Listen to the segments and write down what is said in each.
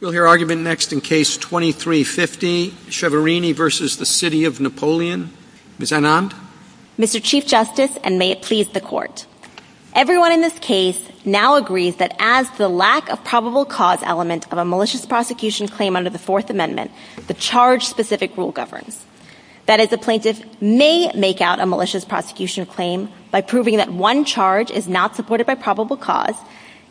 We'll hear argument next in case 2350, Chiaverini v. City of Napoleon. Ms. Anand? Mr. Chief Justice, and may it please the Court, everyone in this case now agrees that as the lack of probable cause element of a malicious prosecution claim under the Fourth Amendment, the charge-specific rule governs. That is, a plaintiff may make out a malicious prosecution claim by proving that one charge is not supported by probable cause,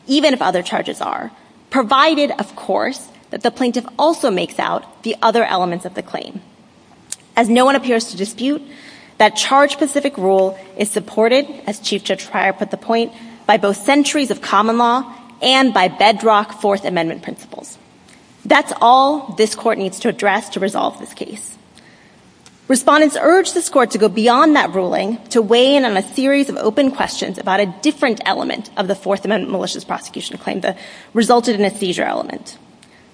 even if other charges are, provided, of course, that the plaintiff also makes out the other elements of the claim. As no one appears to dispute, that charge-specific rule is supported, as Chief Judge Pryor put the point, by both centuries of common law and by bedrock Fourth Amendment principles. That's all this Court needs to address to resolve this case. Respondents urge this Court to go beyond that ruling to weigh in on a series of open questions about a different element of the Fourth Amendment that resulted in a seizure element.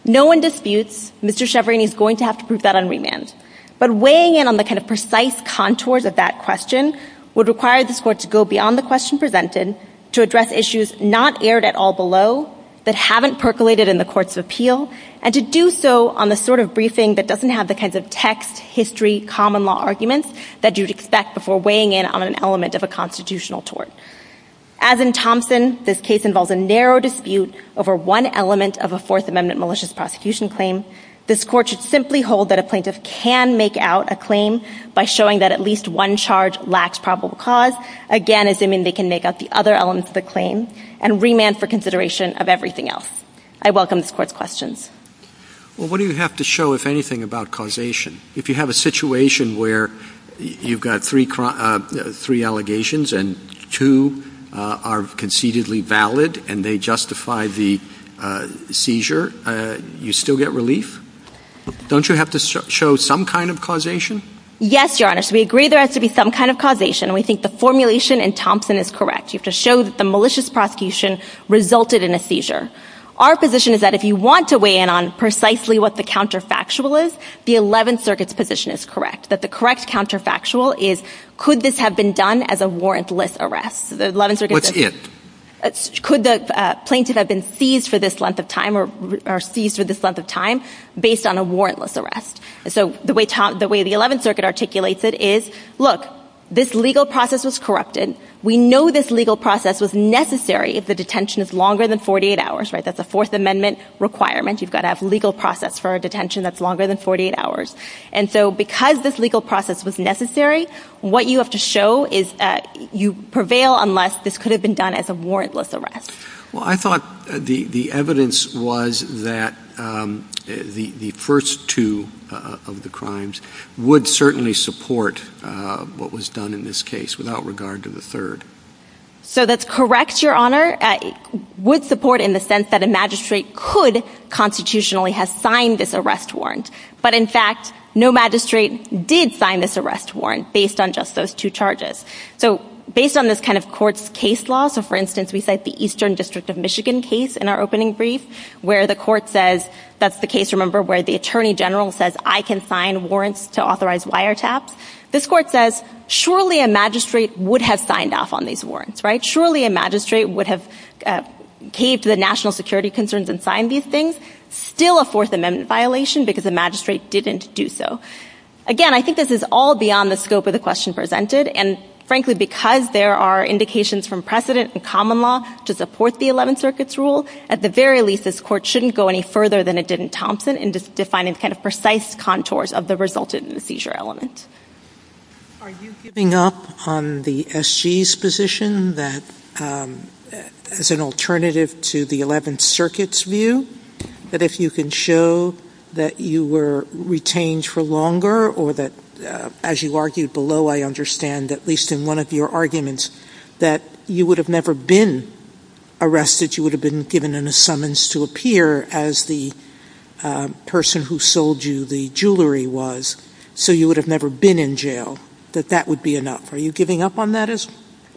No one disputes Mr. Chiaverini's going to have to prove that on remand, but weighing in on the kind of precise contours of that question would require this Court to go beyond the question presented, to address issues not aired at all below that haven't percolated in the courts of appeal, and to do so on the sort of briefing that doesn't have the kinds of text, history, common law arguments that you'd expect before weighing in on an element of a constitutional tort. As in Thompson, this case involves a narrow dispute over one element of a Fourth Amendment malicious prosecution claim. This Court should simply hold that a plaintiff can make out a claim by showing that at least one charge lacks probable cause, again, assuming they can make out the other elements of the claim, and remand for consideration of everything else. I welcome this Court's questions. Well, what do you have to show, if anything, about causation? If you have a situation where you've got three allegations, and two are concededly valid, and they justify the seizure, you still get relief? Don't you have to show some kind of causation? Yes, Your Honor. So we agree there has to be some kind of causation, and we think the formulation in Thompson is correct. You have to show that the malicious prosecution resulted in a seizure. Our position is that if you want to weigh in on precisely what the counterfactual is, the Eleventh Circuit's position is correct. That the correct counterfactual is, could this have been done as a warrantless arrest? Could the plaintiff have been seized for this length of time, or seized for this length of time, based on a warrantless arrest? So the way the Eleventh Circuit articulates it is, look, this legal process was corrupted. We know this legal process was necessary if the detention is longer than 48 hours. That's a Fourth Amendment requirement. You've got to have 48 hours. And so because this legal process was necessary, what you have to show is you prevail unless this could have been done as a warrantless arrest. Well, I thought the evidence was that the first two of the crimes would certainly support what was done in this case, without regard to the third. So that's correct, Your Honor. Would support in the sense that a magistrate could constitutionally have signed this arrest warrant. But in fact, no magistrate did sign this arrest warrant, based on just those two charges. So based on this kind of court's case law, so for instance, we cite the Eastern District of Michigan case in our opening brief, where the court says, that's the case, remember, where the Attorney General says, I can sign warrants to authorize wiretaps. This court says, surely a magistrate would have signed off on these warrants, right? Surely a magistrate would have caved to the national security concerns and signed these things. Still a Fourth Amendment violation, because the magistrate didn't do so. Again, I think this is all beyond the scope of the question presented. And frankly, because there are indications from precedent and common law to support the Eleventh Circuit's rule, at the very least, this court shouldn't go any further than it did in Thompson, in defining the kind of precise contours of the resulted in the seizure element. Are you giving up on the SG's position that, as an alternative to the Eleventh Circuit's view, that if you can show that you were retained for longer, or that, as you argued below, I understand, at least in one of your arguments, that you would have never been arrested, you would have been given in a summons to appear as the person who sold you the jewelry was, so you would have never been in jail, that that would be enough? Are you giving up on that?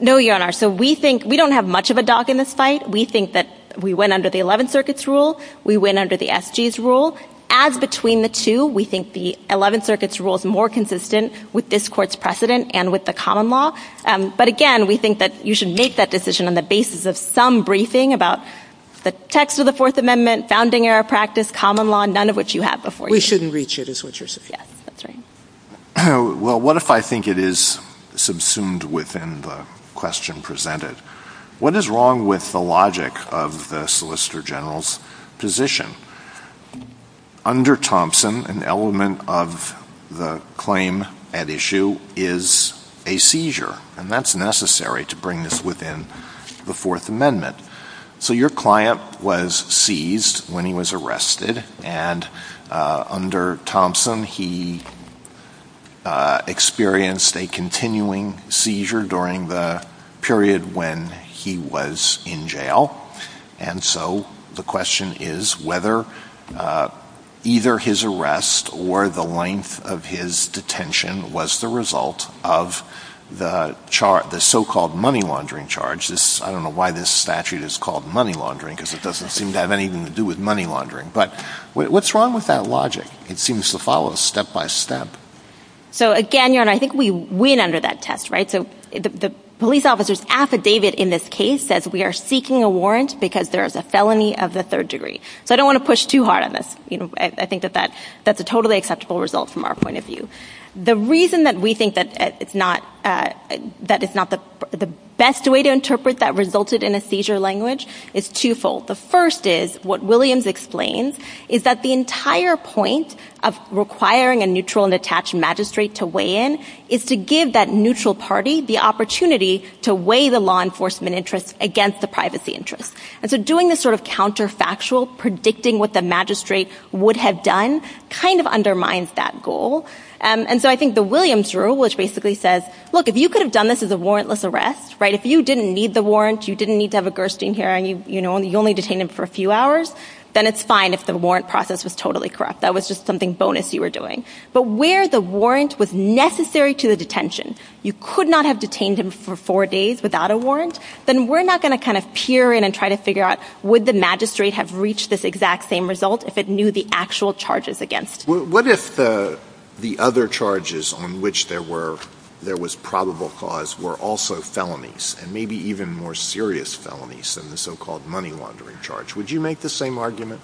No, Your Honor. So we think, we don't have much of a dog in this fight. We think that we went under the Eleventh Circuit's rule. We went under the SG's rule. As between the two, we think the Eleventh Circuit's rule is more consistent with this court's precedent and with the common law. But again, we think that you should make that decision on the basis of some briefing about the text of the Fourth Amendment, founding era practice, common law, none of which you have before you. We shouldn't reach it, is what you're saying. Yes, that's right. Well, what if I think it is subsumed within the question presented? What is wrong with the logic of the Solicitor General's position? Under Thompson, an element of the claim at issue is a seizure, and that's necessary to bring this within the Fourth Amendment. So your client was seized when he was arrested, and under Thompson, he experienced a continuing seizure during the period when he was in jail. And so the question is whether either his arrest or the length of his detention was the result of the so-called money laundering charge. I don't know why this statute is called money laundering, because it doesn't seem to have anything to do with money laundering. But what's wrong with that logic? It seems to follow step by step. So again, Your Honor, I think we win under that test, right? So the police officer's affidavit in this case says we are seeking a warrant because there is a felony of the third degree. So I don't want to push too hard on this. I think that that's a totally acceptable result from our point of view. The reason that we think that it's not the best way to interpret that resulted in a seizure language is twofold. The first is what Williams explains, is that the entire point of requiring a neutral and attached magistrate to weigh in is to give that neutral party the opportunity to weigh the law enforcement interests against the privacy interests. And so doing this sort of counterfactual, predicting what the magistrate would have done, kind of undermines that goal. And so I think the Williams rule, which basically says, look, if you could have done this as a warrantless arrest, right, if you didn't need the warrant, you didn't need to have a Gerstein hearing, you only detained him for a few hours, then it's fine if the warrant process was totally But where the warrant was necessary to the detention, you could not have detained him for four days without a warrant, then we're not going to kind of peer in and try to figure out, would the magistrate have reached this exact same result if it knew the actual charges against? What if the other charges on which there was probable cause were also felonies, and maybe even more serious felonies than the so-called money laundering charge, would you make the same argument?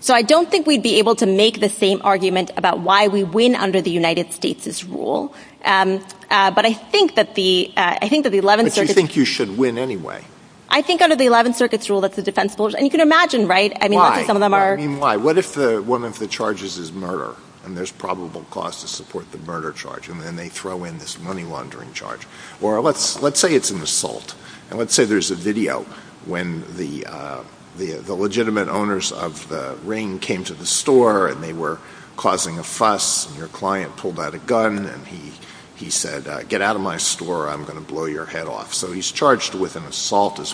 So I don't think we'd be able to make the same argument about why we win under the United States' rule. But I think that the, I think that the 11th circuit... But you think you should win anyway. I think under the 11th circuit's rule, that's a defensible, and you can imagine, right? I mean, some of them are... Why? I mean, why? What if one of the charges is murder, and there's probable cause to support the murder charge, and then they throw in this money laundering charge? Or let's say it's an assault, as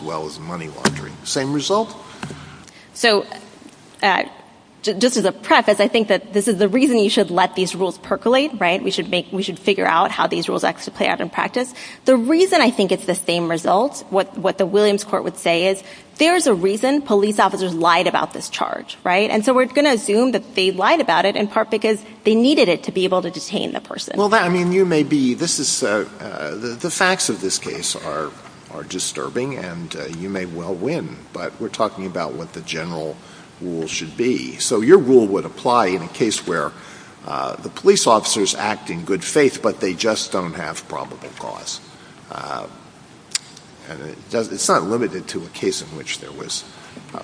well as money laundering. Same result? So just as a preface, I think that this is the reason you should let these rules percolate, right? We should figure out how these rules actually play out in practice. The reason I think it's the same result, what the Williams Court would say is, there's a reason police officers lied about this charge, right? And so we're going to assume that they lied about it in part because they needed it to be able to detain the person. Well, I mean, you may be... The facts of this case are disturbing, and you may well win, but we're talking about what the general rule should be. So your rule would apply in a case where the police officers act in good faith, but they just don't have probable cause. And it's not limited to a case in which there was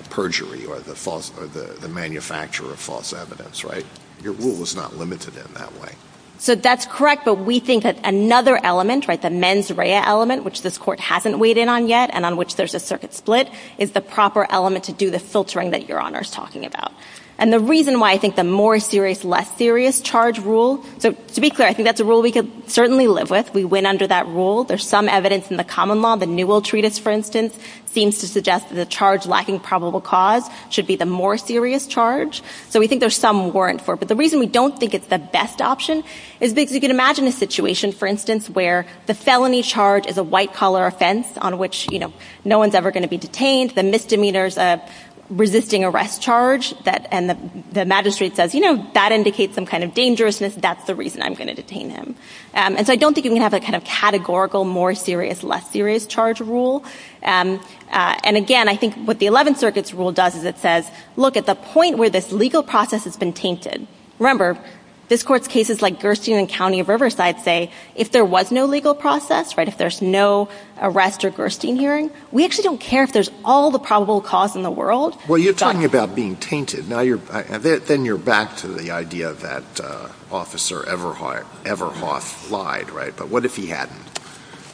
perjury or the manufacturer of false evidence, right? Your rule is not limited in that way. So that's correct, but we think that another element, right, the mens rea element, which this Court hasn't weighed in on yet, and on which there's a circuit split, is the proper element to do the filtering that Your Honor is talking about. And the reason why I think the more serious, less serious charge rule... So to be clear, I think that's a rule we could certainly live with. We win under that rule. There's some evidence in the common law. The Newell Treatise, for instance, seems to suggest that the charge lacking probable cause should be the more serious charge. So we think there's some warrant for it. But the reason we don't think it's the best option is because you can imagine a situation, for instance, where the felony charge is a white-collar offense on which, you know, no one's ever going to be detained. The misdemeanor's a resisting arrest charge, and the magistrate says, you know, that indicates some kind of dangerousness, that's the reason I'm going to detain him. And so I don't think you can have a kind of categorical more serious, less serious charge rule. And again, I think what the Eleventh Circuit's rule does is it says, look, at the point where this legal process has been tainted... Remember, this Court's cases like Gerstein and County of Riverside say, if there was no legal process, right, if there's no arrest or Gerstein hearing, we actually don't care if there's all the probable cause in the world. Well, you're talking about being tainted. Now you're... Then you're back to the idea that Officer Everhoff lied, right? But what if he hadn't?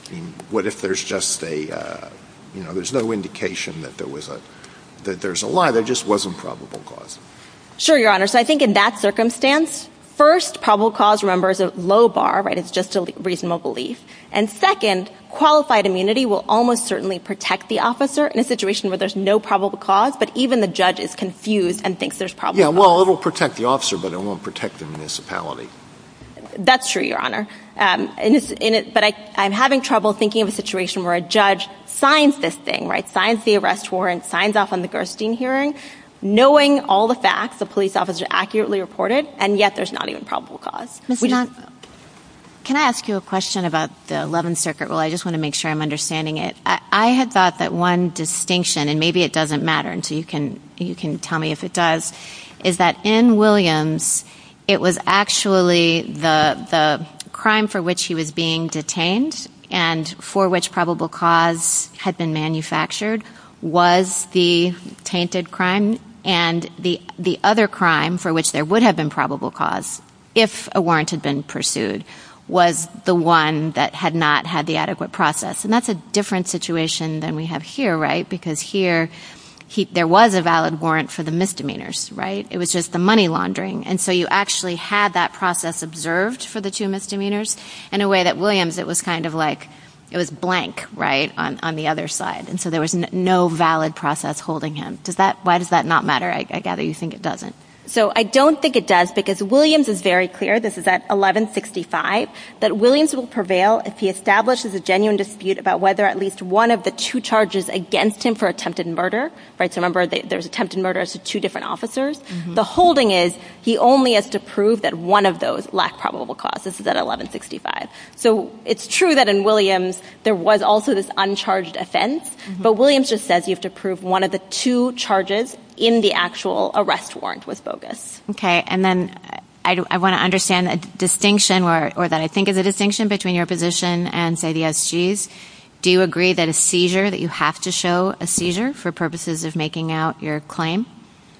I mean, what if there's just a, you know, there's no indication that there was a... that there's a lie, there just wasn't probable cause? Sure, Your Honor. So I think in that circumstance, first, probable cause, remember, is a low bar, right? It's just a reasonable belief. And second, qualified immunity will almost certainly protect the officer in a situation where there's no probable cause, but even the judge is confused and thinks there's probable cause. Yeah, well, it'll protect the officer, but it won't protect the municipality. That's true, Your Honor. But I'm having trouble thinking of a situation where a judge signs this thing, right? Signs the arrest warrant, signs off on the Gerstein hearing, knowing all the facts, the police officer accurately reported, and yet there's not even probable cause. Can I ask you a question about the Eleventh Circuit rule? I just want to make sure I'm understanding it. I had thought that one distinction, and maybe it doesn't matter, so you can tell me if it does, is that in Williams, it was actually the crime for which he was being detained and for which probable cause had been manufactured was the tainted crime, and the other crime for which there would have been probable cause, if a warrant had been pursued, was the one that had not had the adequate process. And that's a different situation than we have here, right? Because here, there was a valid warrant for the misdemeanors, right? It was just the money laundering. And so you actually had that process observed for the two misdemeanors in a way that Williams, it was kind of like, it was blank, right, on the other side. And so there was no valid process holding him. Why does that not matter? I gather you think it doesn't. So I don't think it does because Williams is very clear, this is at 1165, that Williams will prevail if he establishes a genuine dispute about whether at least one of the two charges against him for attempted murder, right? So remember, there's attempted murders to two different officers. The holding is he only has to prove that one of those lack probable cause. This is at 1165. So it's true that in Williams, there was also this uncharged offense, but Williams just says you have to prove one of the two charges in the actual arrest warrant was bogus. Okay. And then I want to understand a distinction or that I think is a distinction between your position and say the SGs. Do you agree that a seizure that you have to show a seizure for purposes of making out your claim?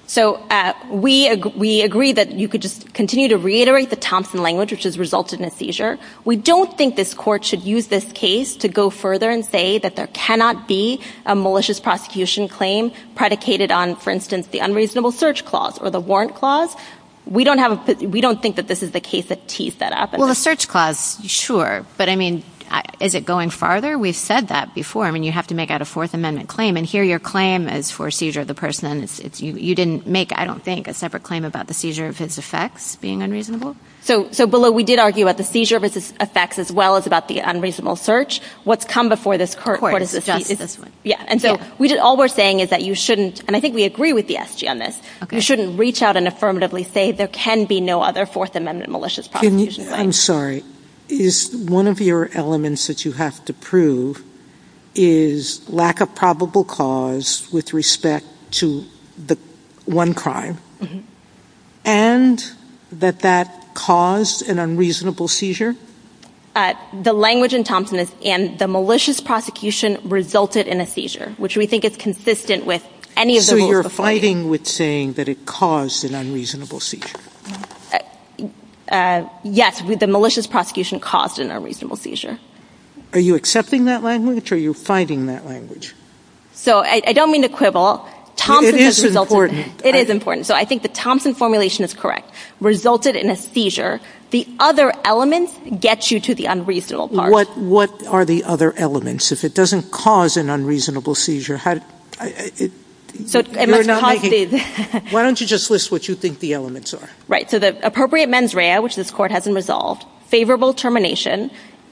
So we, we agree that you could just continue to reiterate the Thompson language, which has resulted in a seizure. We don't think this court should use this case to go further and say that there cannot be a malicious prosecution claim predicated on, for instance, the unreasonable search clause or the warrant clause. We don't have, we don't think that this is the case that teased that up. Well, the search clause, sure. But I mean, is it going farther? We've said that before. I mean, you have to make out a fourth amendment claim and hear your claim as for seizure of the person. And it's, it's, you, you didn't make, I don't think a separate claim about the seizure of his effects being unreasonable. So, so below, we did argue about the seizure of his effects as well as about the unreasonable search. What's come before this court is this one. Yeah. And so we did, all we're saying is that you shouldn't, and I think we agree with the SG on this. You shouldn't reach out and affirmatively say there can be no other fourth amendment malicious prosecution. I'm sorry, is one of your elements that you have to prove is lack of probable cause with respect to the one crime and that that caused an unreasonable seizure? The language in Thompson is, and the malicious prosecution resulted in a seizure, which we that it caused an unreasonable seizure? Yes. The malicious prosecution caused an unreasonable seizure. Are you accepting that language or are you fighting that language? So I don't mean to quibble. It is important. It is important. So I think the Thompson formulation is correct. Resulted in a seizure. The other elements get you to the unreasonable part. What are the other elements? If it doesn't cause an unreasonable seizure? So why don't you just list what you think the elements are? Right. So the appropriate mens rea, which this court hasn't resolved, favorable termination,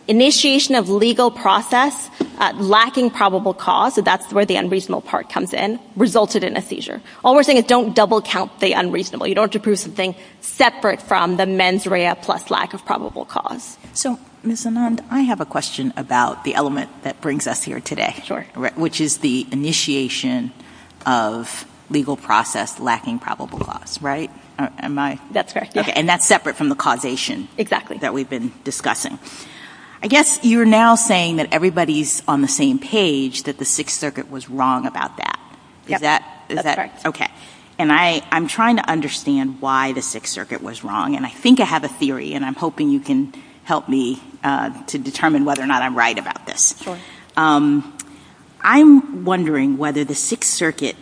initiation of legal process, lacking probable cause. So that's where the unreasonable part comes in. Resulted in a seizure. All we're saying is don't double count the unreasonable. You don't have to prove something separate from the mens rea plus lack of probable cause. So Ms. Anand, I have a question about the element that brings us here today, which is the initiation of legal process lacking probable cause, right? Am I? That's correct. And that's separate from the causation. Exactly. That we've been discussing. I guess you're now saying that everybody's on the same page, that the Sixth Circuit was wrong about that. Is that? That's correct. Okay. And I'm trying to understand why the Sixth Circuit was wrong. And I think I have a theory, and I'm hoping you can help me to determine whether or not I'm right about this. I'm wondering whether the Sixth Circuit,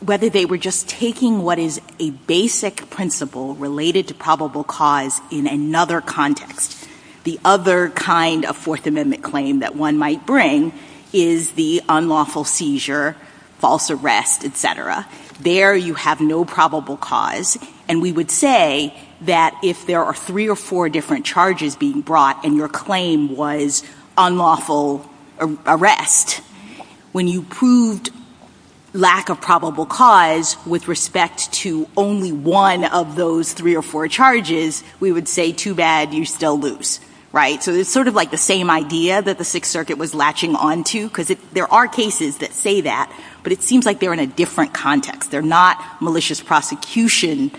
whether they were just taking what is a basic principle related to probable cause in another context. The other kind of Fourth Amendment claim that one might bring is the unlawful seizure, false arrest, et cetera. There you have no probable cause. And we would say that if there are three or four different charges being brought and your when you proved lack of probable cause with respect to only one of those three or four charges, we would say too bad, you still lose, right? So it's sort of like the same idea that the Sixth Circuit was latching onto, because there are cases that say that, but it seems like they're in a different context. They're not malicious prosecution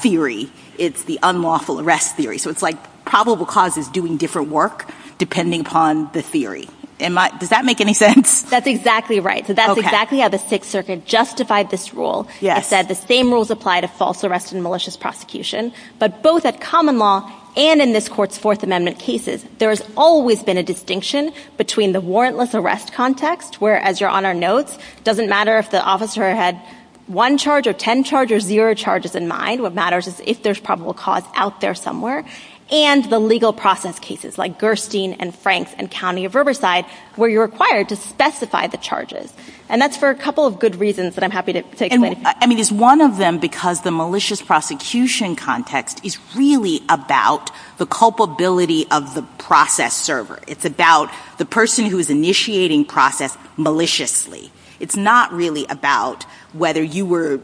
theory. It's the unlawful arrest theory. So it's like probable cause is doing different work depending upon the theory. Does that make any sense? That's exactly right. So that's exactly how the Sixth Circuit justified this rule. It said the same rules apply to false arrest and malicious prosecution, but both at common law and in this court's Fourth Amendment cases, there has always been a distinction between the warrantless arrest context, where as your Honor notes, doesn't matter if the officer had one charge or 10 charge or zero charges in mind. What matters is if there's probable cause out there somewhere and the legal process cases like Gerstein and Franks and County of Riverside, where you're required to specify the charges. And that's for a couple of good reasons that I'm happy to take away. I mean, it's one of them because the malicious prosecution context is really about the culpability of the process server. It's about the person who is initiating process maliciously. It's not really about whether you were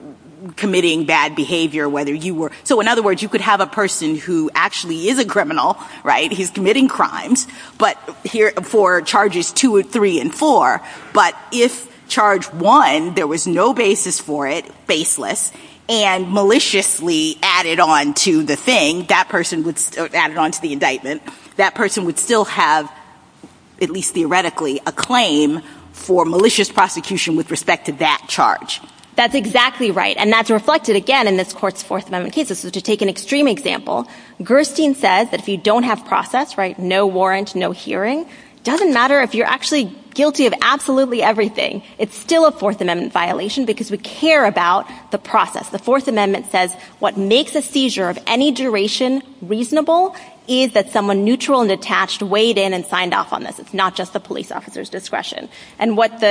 committing bad behavior, whether you were. So in other words, you could have a person who actually is a criminal, right? He's committing crimes, but here for charges two and three and four, but if charge one, there was no basis for it, faceless and maliciously added on to the thing, that person would add it onto the indictment. That person would still have at least theoretically a claim for malicious prosecution with respect to that charge. That's exactly right. And that's reflected again in this court's Fourth Amendment cases. So to take an extreme example, Gerstein says that if you don't have process, right, no warrant, no hearing, doesn't matter if you're actually guilty of absolutely everything, it's still a Fourth Amendment violation because we care about the process. The Fourth Amendment says what makes a seizure of any duration reasonable is that someone neutral and attached weighed in and signed off on this. It's not just the police officer's discretion. And what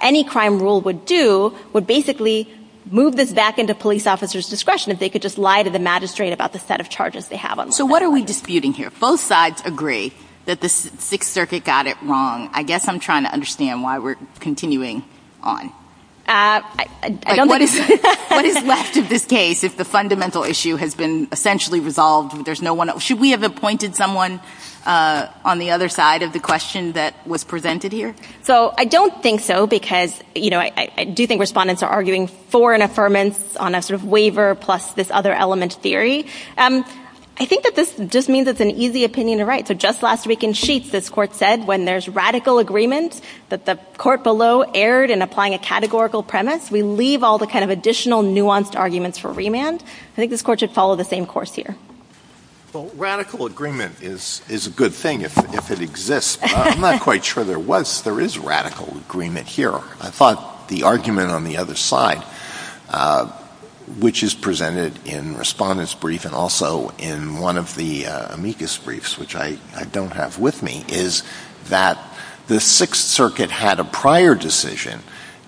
any crime rule would do would basically move this back into police officer's discretion if they could just lie to the magistrate about the set of charges they have. So what are we disputing here? Both sides agree that the Sixth Circuit got it wrong. I guess I'm trying to understand why we're continuing on. What is left of this case if the fundamental issue has been essentially resolved? There's no one else. Should we have appointed someone on the other side of the question that was presented here? So I don't think so because, you know, I do think respondents are arguing for an affirmance on a sort of waiver plus this other element theory. I think that this just means it's an easy opinion to write. So just last week in Sheets, this court said when there's radical agreement that the court below erred in applying a categorical premise, we leave all the kind of additional nuanced arguments for remand. I think this court should follow the same course here. Well, radical agreement is a good thing if it exists. I'm not quite sure there was. There is radical agreement here. I thought the argument on the other side, which is presented in Respondent's Brief and also in one of the amicus briefs, which I don't have with me, is that the Sixth Circuit had a prior decision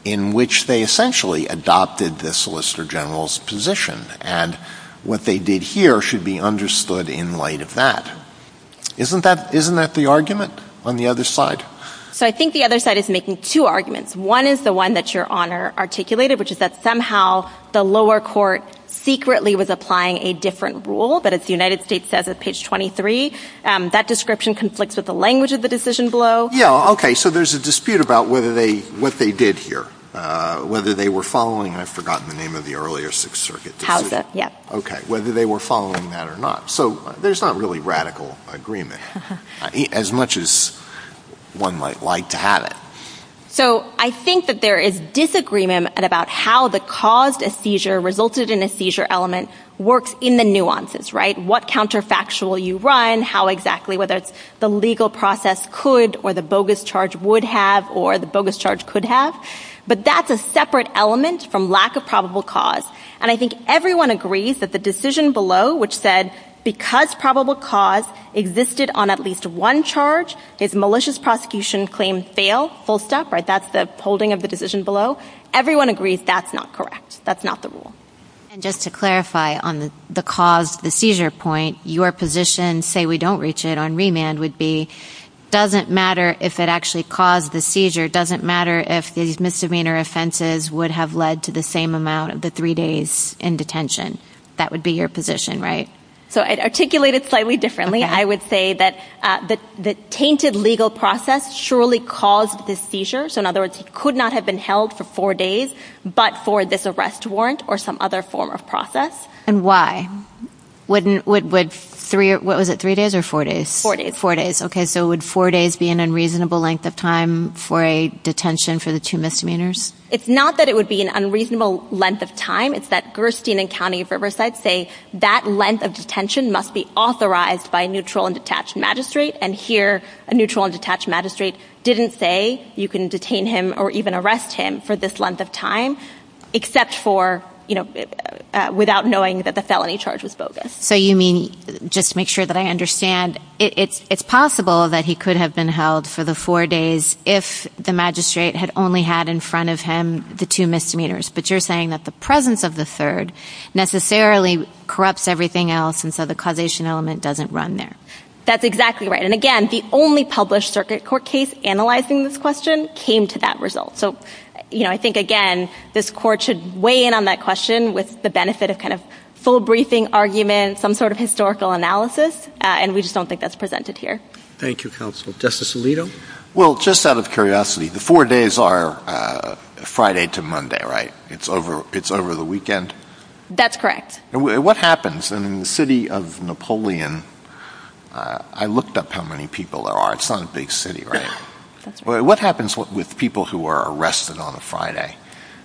in which they essentially adopted the Solicitor General's position, and what they did here should be understood in light of that. Isn't that the argument on the other side? So I think the other side is making two arguments. One is the one that Your Honor articulated, which is that somehow the lower court secretly was applying a different rule, but as the United States says at page 23, that description conflicts with the language of the decision below. Yeah, okay. So there's a dispute about what they did here, whether they were following, I've forgotten the name of the earlier Sixth Circuit decision, whether they were following that or not. So there's not really radical agreement, as much as one might like to have it. So I think that there is disagreement about how the caused a seizure resulted in a seizure element works in the nuances, right? What counterfactual you run, how exactly, whether it's the legal process could or the bogus charge would have or the bogus charge could have, but that's a separate element from lack of probable cause. And I think everyone agrees that the decision below, which said, because probable cause existed on at least one charge, is malicious prosecution claim fail, full stop, right? That's the holding of the decision below. Everyone agrees that's not correct. That's not the rule. And just to clarify on the cause, the seizure point, your position, say we don't reach it on remand would be, doesn't matter if it actually caused the seizure. It doesn't matter if these misdemeanor offenses would have led to the same amount of the three days in detention. That would be your position, right? So I'd articulate it slightly differently. I would say that the tainted legal process surely caused this seizure. So in other words, he could not have been held for four days, but for this arrest warrant or some other form of process. And why? What was it, three days or four days? Four days. Four days. Okay. So would four days be an unreasonable length of time for a detention for the two misdemeanors? It's not that it would be an unreasonable length of time. It's that Gerstein and County of Riverside say that length of detention must be authorized by a neutral and detached magistrate. And here a neutral and detached magistrate didn't say you can detain him or even arrest him for this length of time, except for, you know, uh, without knowing that the felony charge was bogus. So you mean, just to make sure that I understand, it's, it's possible that he could have been held for the four days if the magistrate had only had in front of him, the two misdemeanors, but you're saying that the presence of the third necessarily corrupts everything else. And so the causation element doesn't run there. That's exactly right. And again, the only published circuit court case analyzing this question came to that result. So, you know, I think again, this court should weigh in on that question with the benefit of kind of full briefing argument, some sort of historical analysis. And we just don't think that's presented here. Thank you, counsel. Justice Alito. Well, just out of curiosity, the four days are Friday to Monday, right? It's over, it's over the weekend. That's correct. What happens in the city of Napoleon? I looked up how many people there are. It's not a big city, right? What happens with people who are arrested on a Friday?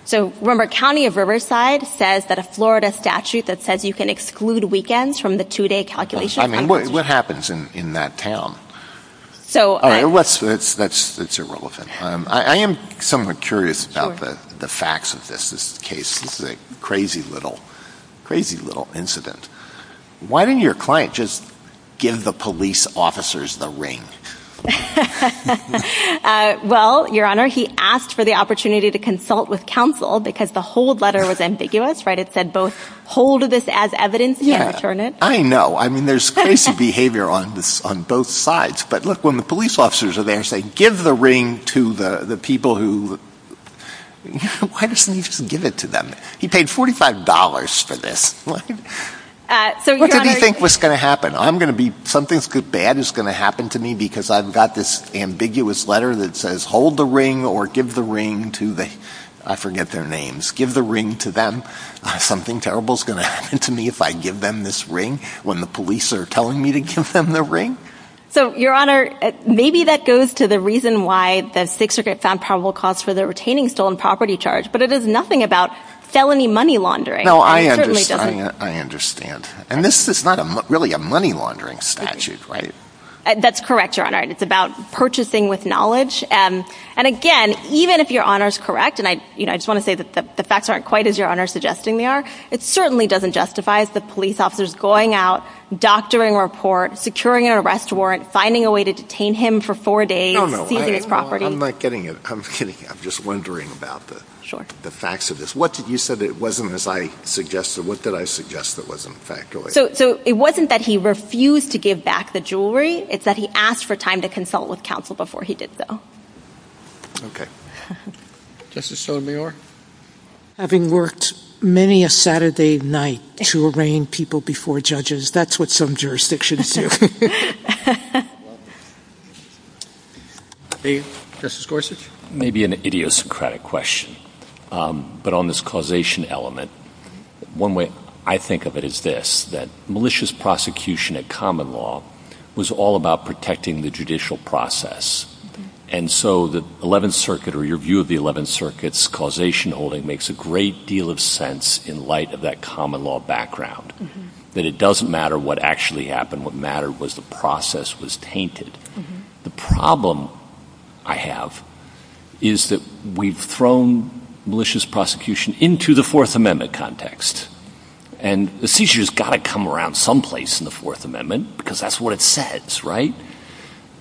So remember County of Riverside says that a Florida statute that says you can exclude weekends from the two day calculation. I mean, what happens in that town? So that's, that's, that's irrelevant. I am somewhat curious about the facts of this, this case, this is a crazy little, crazy little incident. Why didn't your client just give the police officers the ring? Well, Your Honor, he asked for the opportunity to consult with counsel because the hold letter was ambiguous, right? It said both hold this as evidence and return it. I know. I mean, there's crazy behavior on this, on both sides. But look, when the police officers are there saying, give the ring to the, the people who, why doesn't he just give it to them? He paid $45 for this. Uh, so what did he think was going to happen? I'm going to be, something's good. Bad is going to happen to me because I've got this ambiguous letter that says, hold the ring or give the ring to the, I forget their names. Give the ring to them. Something terrible is going to happen to me if I give them this ring when the police are telling me to give them the ring. So Your Honor, maybe that goes to the reason why the six regret found probable cause for the retaining stolen property charge, but it is nothing about felony money laundering. No, I understand. I understand. And this is not really a money laundering statute, right? That's correct, Your Honor. And it's about purchasing with knowledge. Um, and again, even if Your Honor's correct, and I, you know, I just want to say that the facts aren't quite as Your Honor suggesting they are. It certainly doesn't justify as the police officers going out, doctoring report, securing an arrest warrant, finding a way to detain him for four days. I'm not getting it. I'm kidding. I'm just wondering about the facts of this. What did you say that it wasn't as I suggested? What did I suggest that wasn't factually? So it wasn't that he refused to give back the jewelry. It's that he asked for time to consult with counsel before he did so. Okay. Justice Sotomayor. Having worked many a Saturday night to arraign people before judges, that's what some jurisdictions do. Okay. Justice Gorsuch. Maybe an idiosyncratic question. Um, but on this causation element, one way I think of it is this, that malicious prosecution at common law was all about protecting the judicial process. And so the 11th Circuit or your view of the 11th Circuit's causation holding makes a great deal of sense in light of that common law background, that it doesn't matter what actually happened. What mattered was the process was tainted. The problem I have is that we've thrown malicious prosecution into the Fourth Amendment context. And the seizure has got to come around someplace in the Fourth Amendment because that's what it says, right?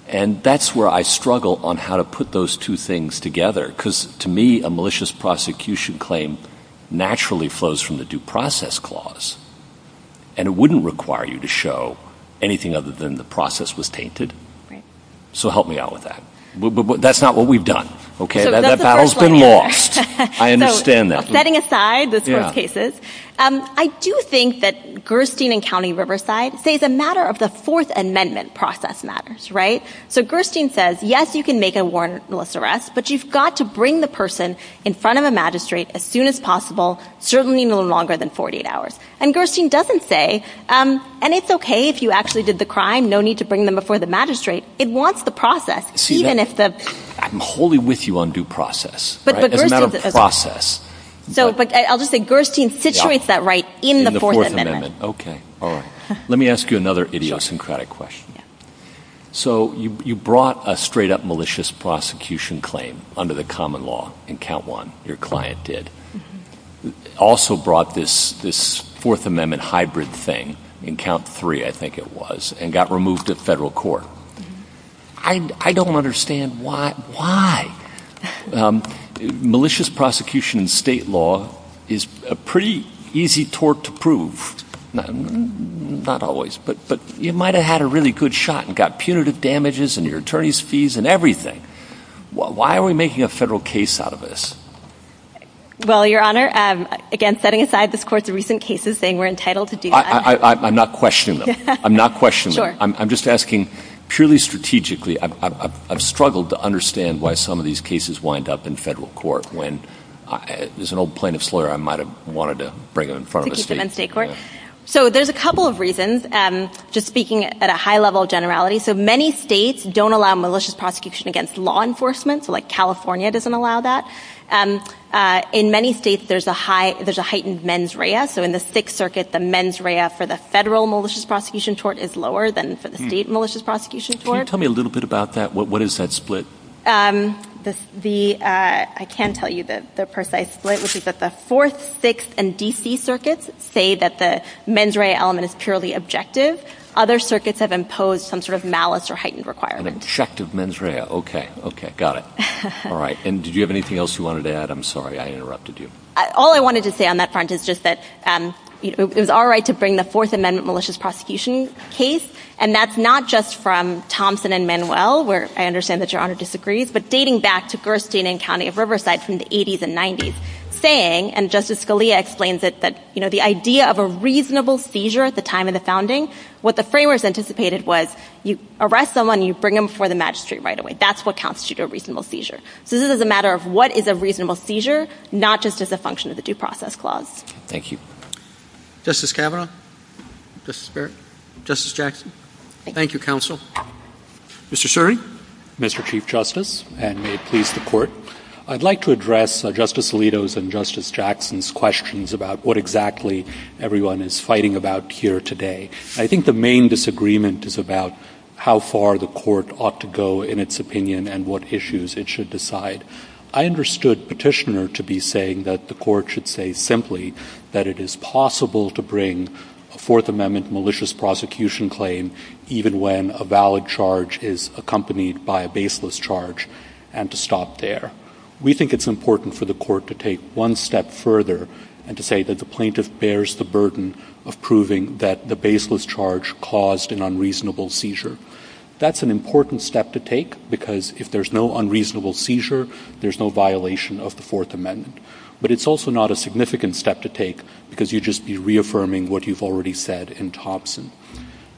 And that's where I struggle on how to put those two things together. Because to me, malicious prosecution claim naturally flows from the due process clause, and it wouldn't require you to show anything other than the process was tainted. So help me out with that. That's not what we've done. Okay. That battle's been lost. I understand that. Setting aside those first cases, I do think that Gerstein and County Riverside say it's a matter of the Fourth Amendment process matters, right? So Gerstein says, yes, you can make a warrantless arrest, but you've got to bring the person in front of a magistrate as soon as possible, certainly no longer than 48 hours. And Gerstein doesn't say, and it's okay if you actually did the crime, no need to bring them before the magistrate. It wants the process. I'm wholly with you on due process. It's a matter of process. But I'll just say Gerstein situates that right in the Fourth Amendment. Okay. All right. Let me ask you another idiosyncratic question. So you brought a straight up malicious prosecution claim under the common law in count one, your client did. Also brought this Fourth Amendment hybrid thing in count three, I think it was, and got removed at federal court. I don't understand why. Why? Malicious prosecution in state law is a pretty easy tort to prove. Not always, but you might've had a really good shot and got punitive damages and your attorney's fees and everything. Why are we making a federal case out of this? Well, Your Honor, again, setting aside this court's recent cases saying we're entitled to do that. I'm not questioning them. I'm not questioning them. I'm just asking purely strategically. I've struggled to understand why some of these cases wind up in federal court when, as an old plaintiff's lawyer, I might've wanted to bring it in front of the state court. So there's a couple of reasons. Just speaking at a high level of generality. So many states don't allow malicious prosecution against law enforcement. So like California doesn't allow that. In many states, there's a heightened mens rea. So in the Sixth Circuit, the mens rea for the federal malicious prosecution tort is lower than for the state malicious prosecution tort. Can you tell me a little bit about that? What is that split? Um, the, uh, I can tell you the precise split, which is that the Fourth, Sixth, and D.C. circuits say that the mens rea element is purely objective. Other circuits have imposed some sort of malice or heightened requirements. An objective mens rea. Okay. Okay. Got it. All right. And did you have anything else you wanted to add? I'm sorry I interrupted you. All I wanted to say on that front is just that, um, it was our right to bring the Fourth Amendment malicious prosecution case. And that's not just from Thompson and Manuel, where I understand that Your Honor disagrees, but dating back to Gerstein and County of Riverside from the 80s and 90s, saying, and Justice Scalia explains it, that, you know, the idea of a reasonable seizure at the time of the founding, what the framers anticipated was you arrest someone, you bring them before the magistrate right away. That's what constitutes a reasonable seizure. So this is a matter of what is a reasonable seizure, not just as a function of the due process clause. Thank you. Justice Kavanaugh? Justice Barrett? Justice Jackson? Thank you, counsel. Mr. Suri? Mr. Chief Justice, and may it please the court. I'd like to address Justice Alito's and Justice Jackson's questions about what exactly everyone is fighting about here today. I think the main disagreement is about how far the court ought to go in its opinion and what issues it should decide. I understood Petitioner to be saying that the court should say simply that it is possible to bring a Fourth Amendment malicious prosecution claim even when a valid charge is accompanied by a baseless charge, and to stop there. We think it's important for the court to take one step further and to say that the plaintiff bears the burden of proving that the baseless charge caused an unreasonable seizure. That's an important step to take, because if there's no unreasonable seizure, there's no violation of the Fourth Amendment. But it's also not a significant step to take, because you'd just be reaffirming what you've already said in Thompson.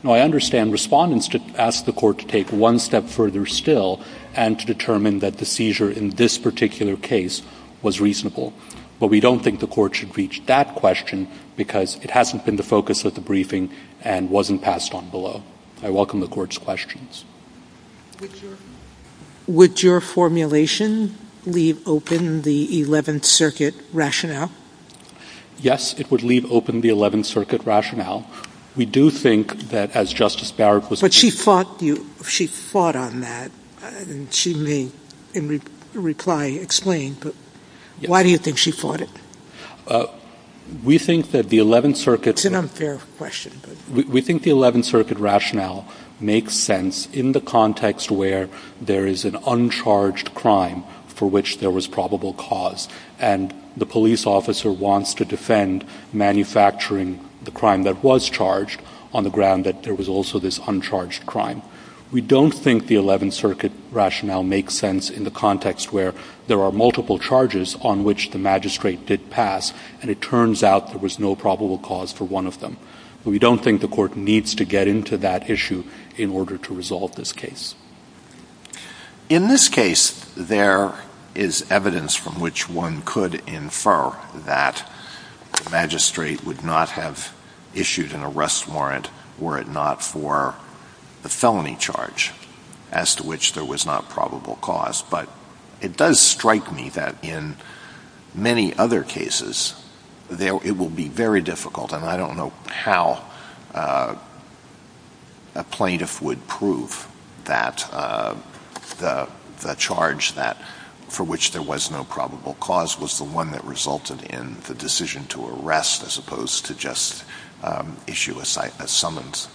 Now, I understand respondents asked the court to take one step further still and to determine that the seizure in this particular case was reasonable. But we don't think the court should reach that question, because it hasn't been the focus of the briefing and wasn't passed on below. I welcome the court's questions. Would your formulation leave open the Eleventh Circuit rationale? Yes, it would leave open the Eleventh Circuit rationale. We do think that, as Justice Barrett was— But she fought on that, and she may in reply explain, but why do you think she fought it? We think that the Eleventh Circuit— It's an unfair question, but— We think the Eleventh Circuit rationale makes sense in the context where there is an uncharged crime for which there was probable cause, and the police officer wants to defend manufacturing the crime that was charged on the ground that there was also this uncharged crime. We don't think the Eleventh Circuit rationale makes sense in the context where there are multiple charges on which the magistrate did pass, and it turns out there was no probable cause for one of them. We don't think the court needs to get into that issue in order to resolve this case. In this case, there is evidence from which one could infer that the magistrate would not have issued an arrest warrant were it not for the felony charge as to which there was not probable cause, but it does strike me that in many other cases, it will be very difficult, and I don't how a plaintiff would prove that the charge for which there was no probable cause was the one that resulted in the decision to arrest as opposed to just issue a summons.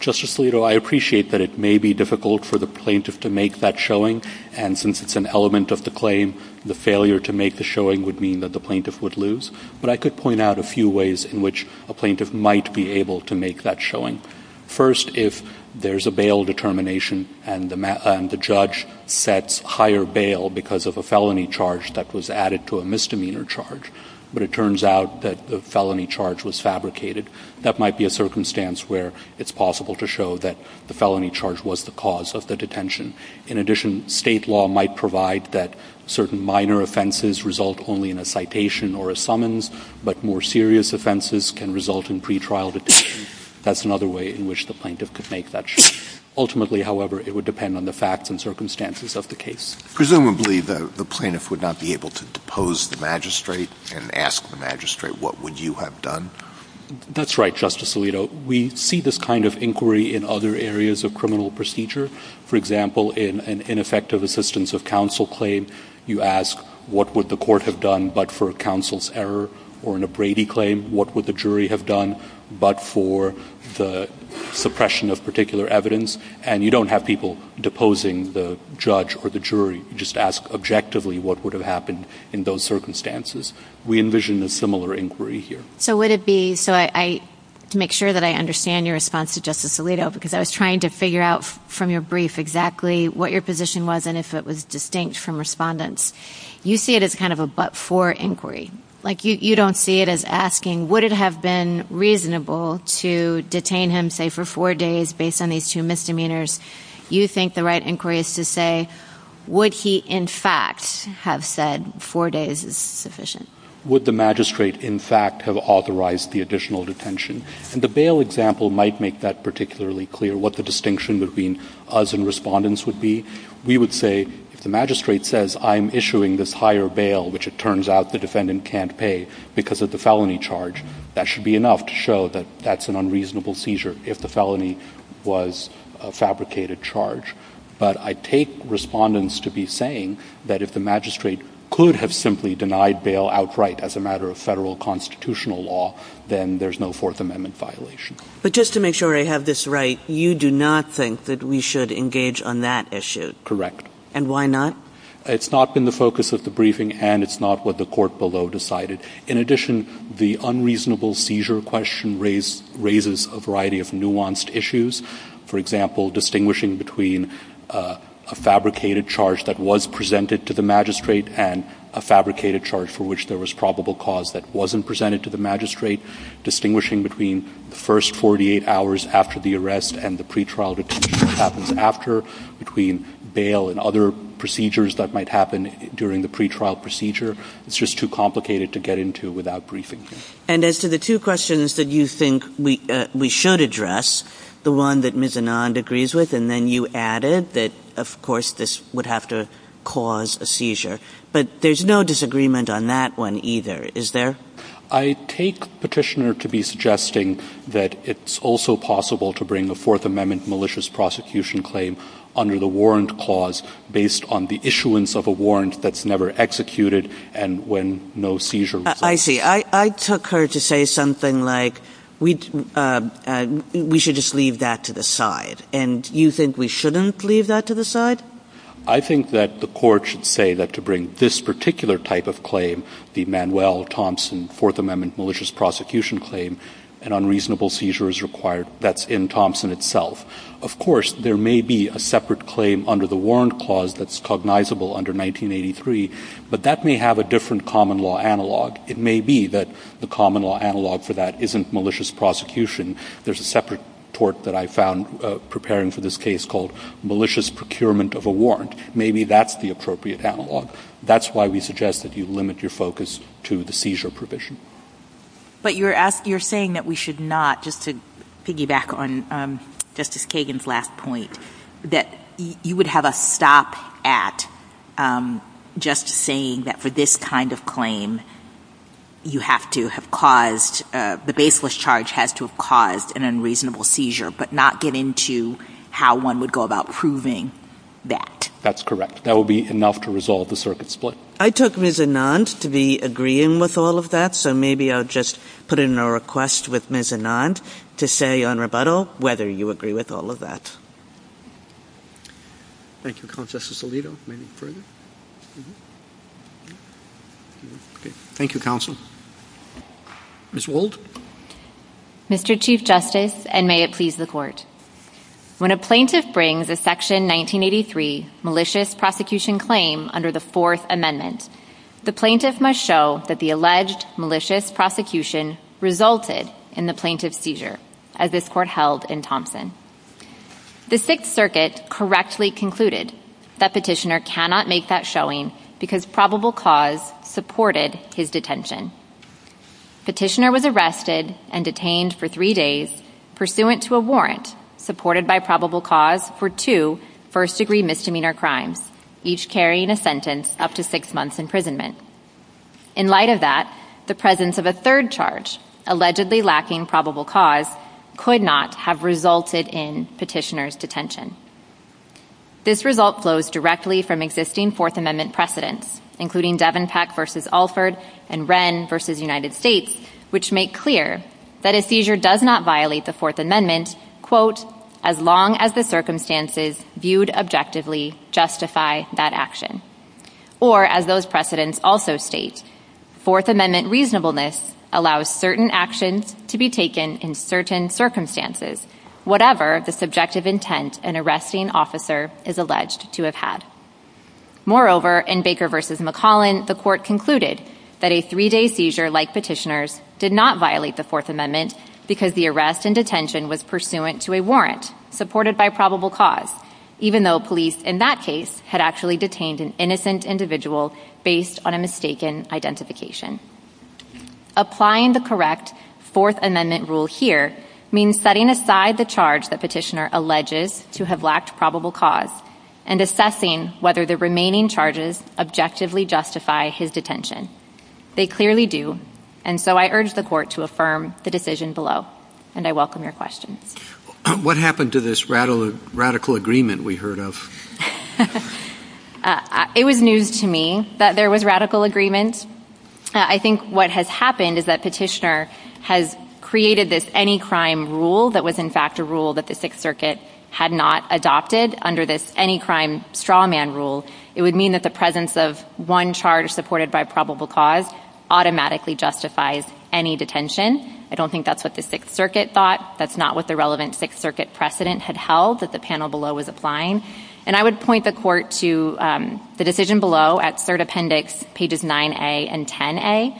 Justice Alito, I appreciate that it may be difficult for the plaintiff to make that showing, and since it's an element of the claim, the failure to make the showing would mean that plaintiff would lose, but I could point out a few ways in which a plaintiff might be able to make that showing. First, if there's a bail determination and the judge sets higher bail because of a felony charge that was added to a misdemeanor charge, but it turns out that the felony charge was fabricated, that might be a circumstance where it's possible to show that the felony charge was the cause of the detention. In addition, state law might provide that certain minor offenses result only in a citation or a summons, but more serious offenses can result in pre-trial detention. That's another way in which the plaintiff could make that show. Ultimately, however, it would depend on the facts and circumstances of the case. Presumably, the plaintiff would not be able to depose the magistrate and ask the magistrate, what would you have done? That's right, Justice Alito. We see this kind of inquiry in other areas of criminal procedure. For example, in an ineffective assistance of counsel claim, you ask, what would the court have done but for a counsel's error? Or in a Brady claim, what would the jury have done but for the suppression of particular evidence? And you don't have people deposing the judge or the jury. You just ask objectively, what would have happened in those circumstances? We envision a similar inquiry here. So would it be, to make sure that I understand your response to Justice Alito, because I was exactly what your position was and if it was distinct from respondents, you see it as kind of a but-for inquiry. You don't see it as asking, would it have been reasonable to detain him, say, for four days based on these two misdemeanors? You think the right inquiry is to say, would he in fact have said four days is sufficient? Would the magistrate in fact have authorized the additional detention? And the bail example might make that particularly clear, what the distinction between us and respondents would be. We would say, if the magistrate says, I'm issuing this higher bail, which it turns out the defendant can't pay because of the felony charge, that should be enough to show that that's an unreasonable seizure if the felony was a fabricated charge. But I take respondents to be saying that if the magistrate could have simply denied bail outright as a matter of federal constitutional law, then there's no Fourth Amendment violation. But just to make sure I have this right, you do not think that we should engage on that issue? Correct. And why not? It's not been the focus of the briefing and it's not what the court below decided. In addition, the unreasonable seizure question raises a variety of nuanced issues. For example, distinguishing between a fabricated charge that was presented to the magistrate and a fabricated charge for which there was probable cause that wasn't presented to the magistrate, distinguishing between the first 48 hours after the arrest and the pretrial detention that happens after, between bail and other procedures that might happen during the pretrial procedure, it's just too complicated to get into without briefing. And as to the two questions that you think we should address, the one that Ms. Anand agrees with, and then you added that, of course, this would have to cause a seizure, but there's no disagreement on that one either, is there? I take Petitioner to be suggesting that it's also possible to bring a Fourth Amendment malicious prosecution claim under the warrant clause based on the issuance of a warrant that's never executed and when no seizure results. I see. I took her to say something like, we should just leave that to the side. And you think we shouldn't leave that to the side? I think that the court should say that to bring this particular type of claim, the Manuel Thompson Fourth Amendment malicious prosecution claim, an unreasonable seizure is required. That's in Thompson itself. Of course, there may be a separate claim under the warrant clause that's cognizable under 1983, but that may have a different common law analog. It may be that the common law analog for that isn't malicious prosecution. There's a separate tort that I found preparing for this case called malicious procurement of a warrant. Maybe that's the appropriate analog. That's why we suggest that you limit your focus to the seizure provision. But you're saying that we should not, just to piggyback on Justice Kagan's last point, that you would have a stop at just saying that for this kind of claim, you have to have caused, the baseless charge has to have caused an unreasonable seizure, but not get into how one would go about proving that. That's correct. That would be enough to resolve the circuit split. I took Ms. Anand to be agreeing with all of that. So maybe I'll just put in a request with Ms. Anand to say on rebuttal, whether you agree with all of that. Thank you, Counsel. Justice Alito, maybe further. Thank you, Counsel. Ms. Wald. Mr. Chief Justice, and may it please the court. When a plaintiff brings a Section 1983 malicious prosecution claim under the Fourth Amendment, the plaintiff must show that the alleged malicious prosecution resulted in the plaintiff's seizure, as this court held in Thompson. The Sixth Circuit correctly concluded that Petitioner cannot make that showing because probable cause supported his detention. Petitioner was arrested and detained for three days pursuant to a warrant supported by probable cause for two first-degree misdemeanor crimes, each carrying a sentence up to six months imprisonment. In light of that, the presence of a third charge, allegedly lacking probable cause, could not have resulted in Petitioner's detention. This result flows directly from existing Fourth Amendment precedents, including Devon Peck v. Alford and Wren v. United States, which make that a seizure does not violate the Fourth Amendment as long as the circumstances viewed objectively justify that action. Or, as those precedents also state, Fourth Amendment reasonableness allows certain actions to be taken in certain circumstances, whatever the subjective intent an arresting officer is alleged to have had. Moreover, in Baker v. did not violate the Fourth Amendment because the arrest and detention was pursuant to a warrant supported by probable cause, even though police in that case had actually detained an innocent individual based on a mistaken identification. Applying the correct Fourth Amendment rule here means setting aside the charge that Petitioner alleges to have lacked probable cause and assessing whether the remaining charges objectively justify his detention. They clearly do, so I urge the Court to affirm the decision below, and I welcome your questions. What happened to this radical agreement we heard of? It was news to me that there was radical agreement. I think what has happened is that Petitioner has created this any crime rule that was in fact a rule that the Sixth Circuit had not adopted under this any crime straw man rule. It would mean that the presence of one charge supported by probable cause automatically justifies any detention. I don't think that's what the Sixth Circuit thought. That's not what the relevant Sixth Circuit precedent had held that the panel below was applying, and I would point the Court to the decision below at Cert Appendix pages 9a and 10a,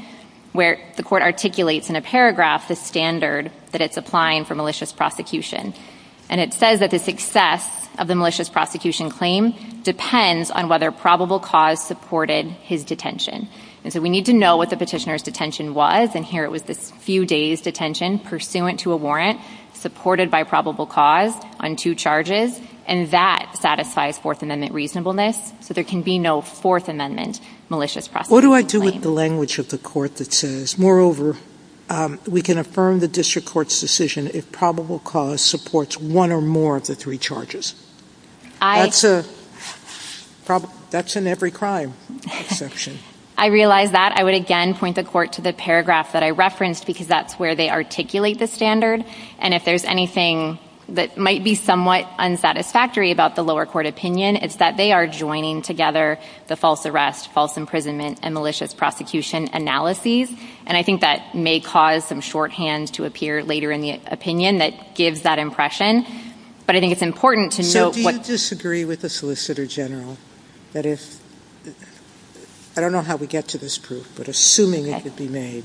where the Court articulates in a paragraph the standard that it's applying for malicious prosecution, and it says that the success of the malicious prosecution claim depends on whether probable cause supported his detention, and so we need to know what the Petitioner's detention was, and here it was this few days' detention pursuant to a warrant supported by probable cause on two charges, and that satisfies Fourth Amendment reasonableness, so there can be no Fourth Amendment malicious prosecution claim. What do I do with the language of the Court that says, moreover, we can affirm the District Court's decision if probable cause supports one or more of three charges? That's an every crime exception. I realize that. I would again point the Court to the paragraph that I referenced because that's where they articulate the standard, and if there's anything that might be somewhat unsatisfactory about the lower court opinion, it's that they are joining together the false arrest, false imprisonment, and malicious prosecution analyses, and I think that may cause some shorthand to appear later in the opinion that gives that impression, but I think it's important to know what... So do you disagree with the Solicitor General that if, I don't know how we get to this proof, but assuming it could be made,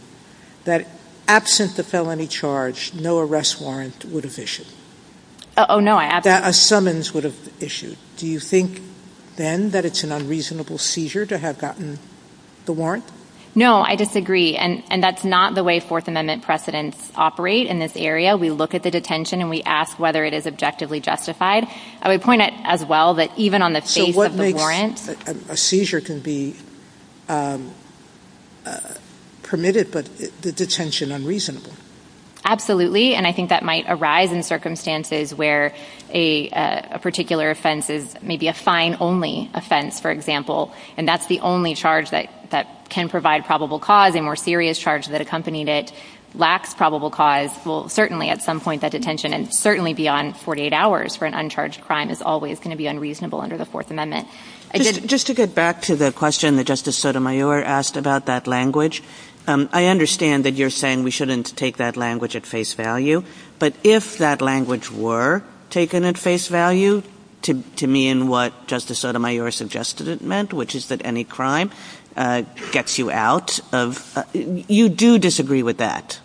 that absent the felony charge, no arrest warrant would have issued? Oh no, I absolutely... That a summons would have issued. Do you think then that it's an unreasonable seizure to have gotten the warrant? No, I disagree, and that's not the way Fourth Amendment precedents operate in this area. We look at the detention, and we ask whether it is objectively justified. I would point out as well that even on the face of the warrant... So what makes a seizure can be permitted but the detention unreasonable? Absolutely, and I think that might arise in circumstances where a particular offense is maybe a fine-only offense, for example, and that's the only charge that can provide probable cause. A more serious charge that accompanied it lacks probable cause will certainly at some point... That detention, and certainly beyond 48 hours for an uncharged crime, is always going to be unreasonable under the Fourth Amendment. Just to get back to the question that Justice Sotomayor asked about that language, I understand that you're saying we shouldn't take that language at face value, but if that language were taken at face value to mean what Justice Sotomayor suggested it meant, which is that any crime gets you out, you do disagree with that?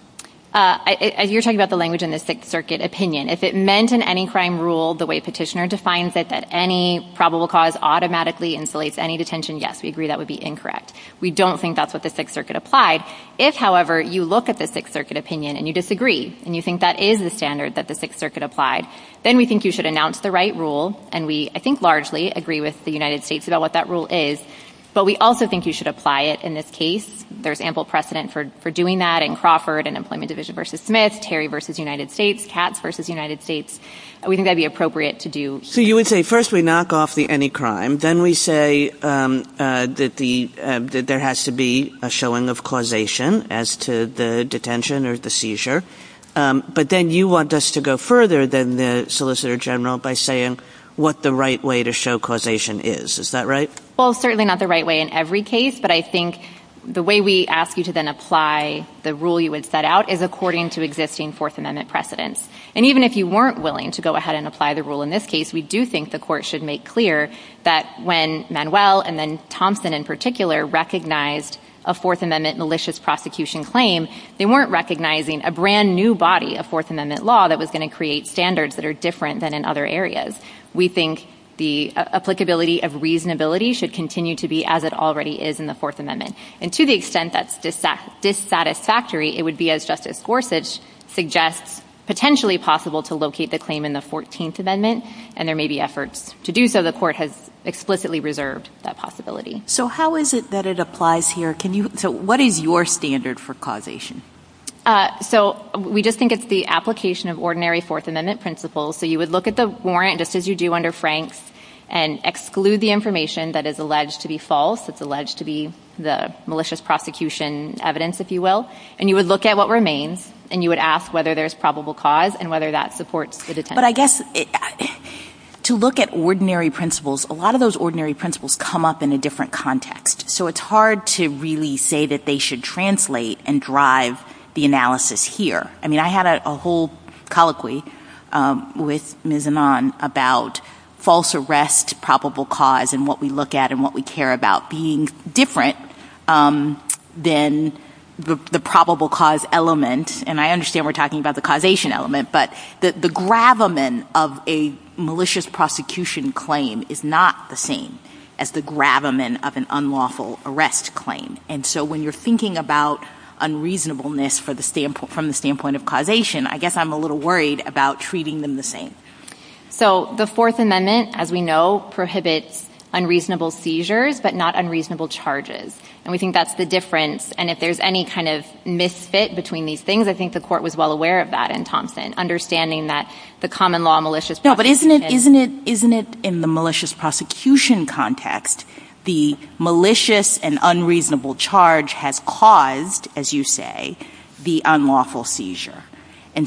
You're talking about the language in the Sixth Circuit opinion. If it meant in any crime rule the way Petitioner defines it, that any probable cause automatically insulates any detention, yes, we agree that would be incorrect. We don't think that's what the Sixth Circuit applied. If, however, you look at the Sixth Circuit opinion, and you disagree, and you think that is the standard that the Sixth Circuit applied, then we think you should announce the right rule, and we, I think, largely agree with the United States about what that rule is, but we also think you should apply it in this case. There's ample precedent for doing that in Crawford and Employment Division v. Smith, Terry v. United States, Katz v. United States. We think that'd be appropriate to do here. So you would say first we knock off the any crime, then we say that there has to be a showing of causation as to the detention or the seizure, but then you want us to go further than the Is that right? Well, certainly not the right way in every case, but I think the way we ask you to then apply the rule you had set out is according to existing Fourth Amendment precedents. And even if you weren't willing to go ahead and apply the rule in this case, we do think the court should make clear that when Manuel and then Thompson in particular recognized a Fourth Amendment malicious prosecution claim, they weren't recognizing a brand new body of Fourth Amendment law that was going to create standards that are different than in other areas. We think the applicability of reasonability should continue to be as it already is in the Fourth Amendment. And to the extent that's dissatisfactory, it would be as Justice Gorsuch suggests, potentially possible to locate the claim in the 14th Amendment, and there may be efforts to do so. The court has explicitly reserved that possibility. So how is it that it applies here? So what is your standard for causation? So we just think it's the application of ordinary Fourth Amendment principles. So you would look at the warrant, just as you do under Franks, and exclude the information that is alleged to be false. It's alleged to be the malicious prosecution evidence, if you will. And you would look at what remains, and you would ask whether there's probable cause and whether that supports the detention. But I guess to look at ordinary principles, a lot of those ordinary principles come up in a different context. So it's hard to really say that they should translate and I had a whole colloquy with Ms. Anand about false arrest, probable cause, and what we look at and what we care about being different than the probable cause element. And I understand we're talking about the causation element, but the gravamen of a malicious prosecution claim is not the same as the gravamen of an unlawful arrest claim. And so when you're thinking about causation, I guess I'm a little worried about treating them the same. So the Fourth Amendment, as we know, prohibits unreasonable seizures, but not unreasonable charges. And we think that's the difference. And if there's any kind of misfit between these things, I think the court was well aware of that in Thompson, understanding that the common law malicious prosecution... No, but isn't it in the malicious prosecution context, the malicious and And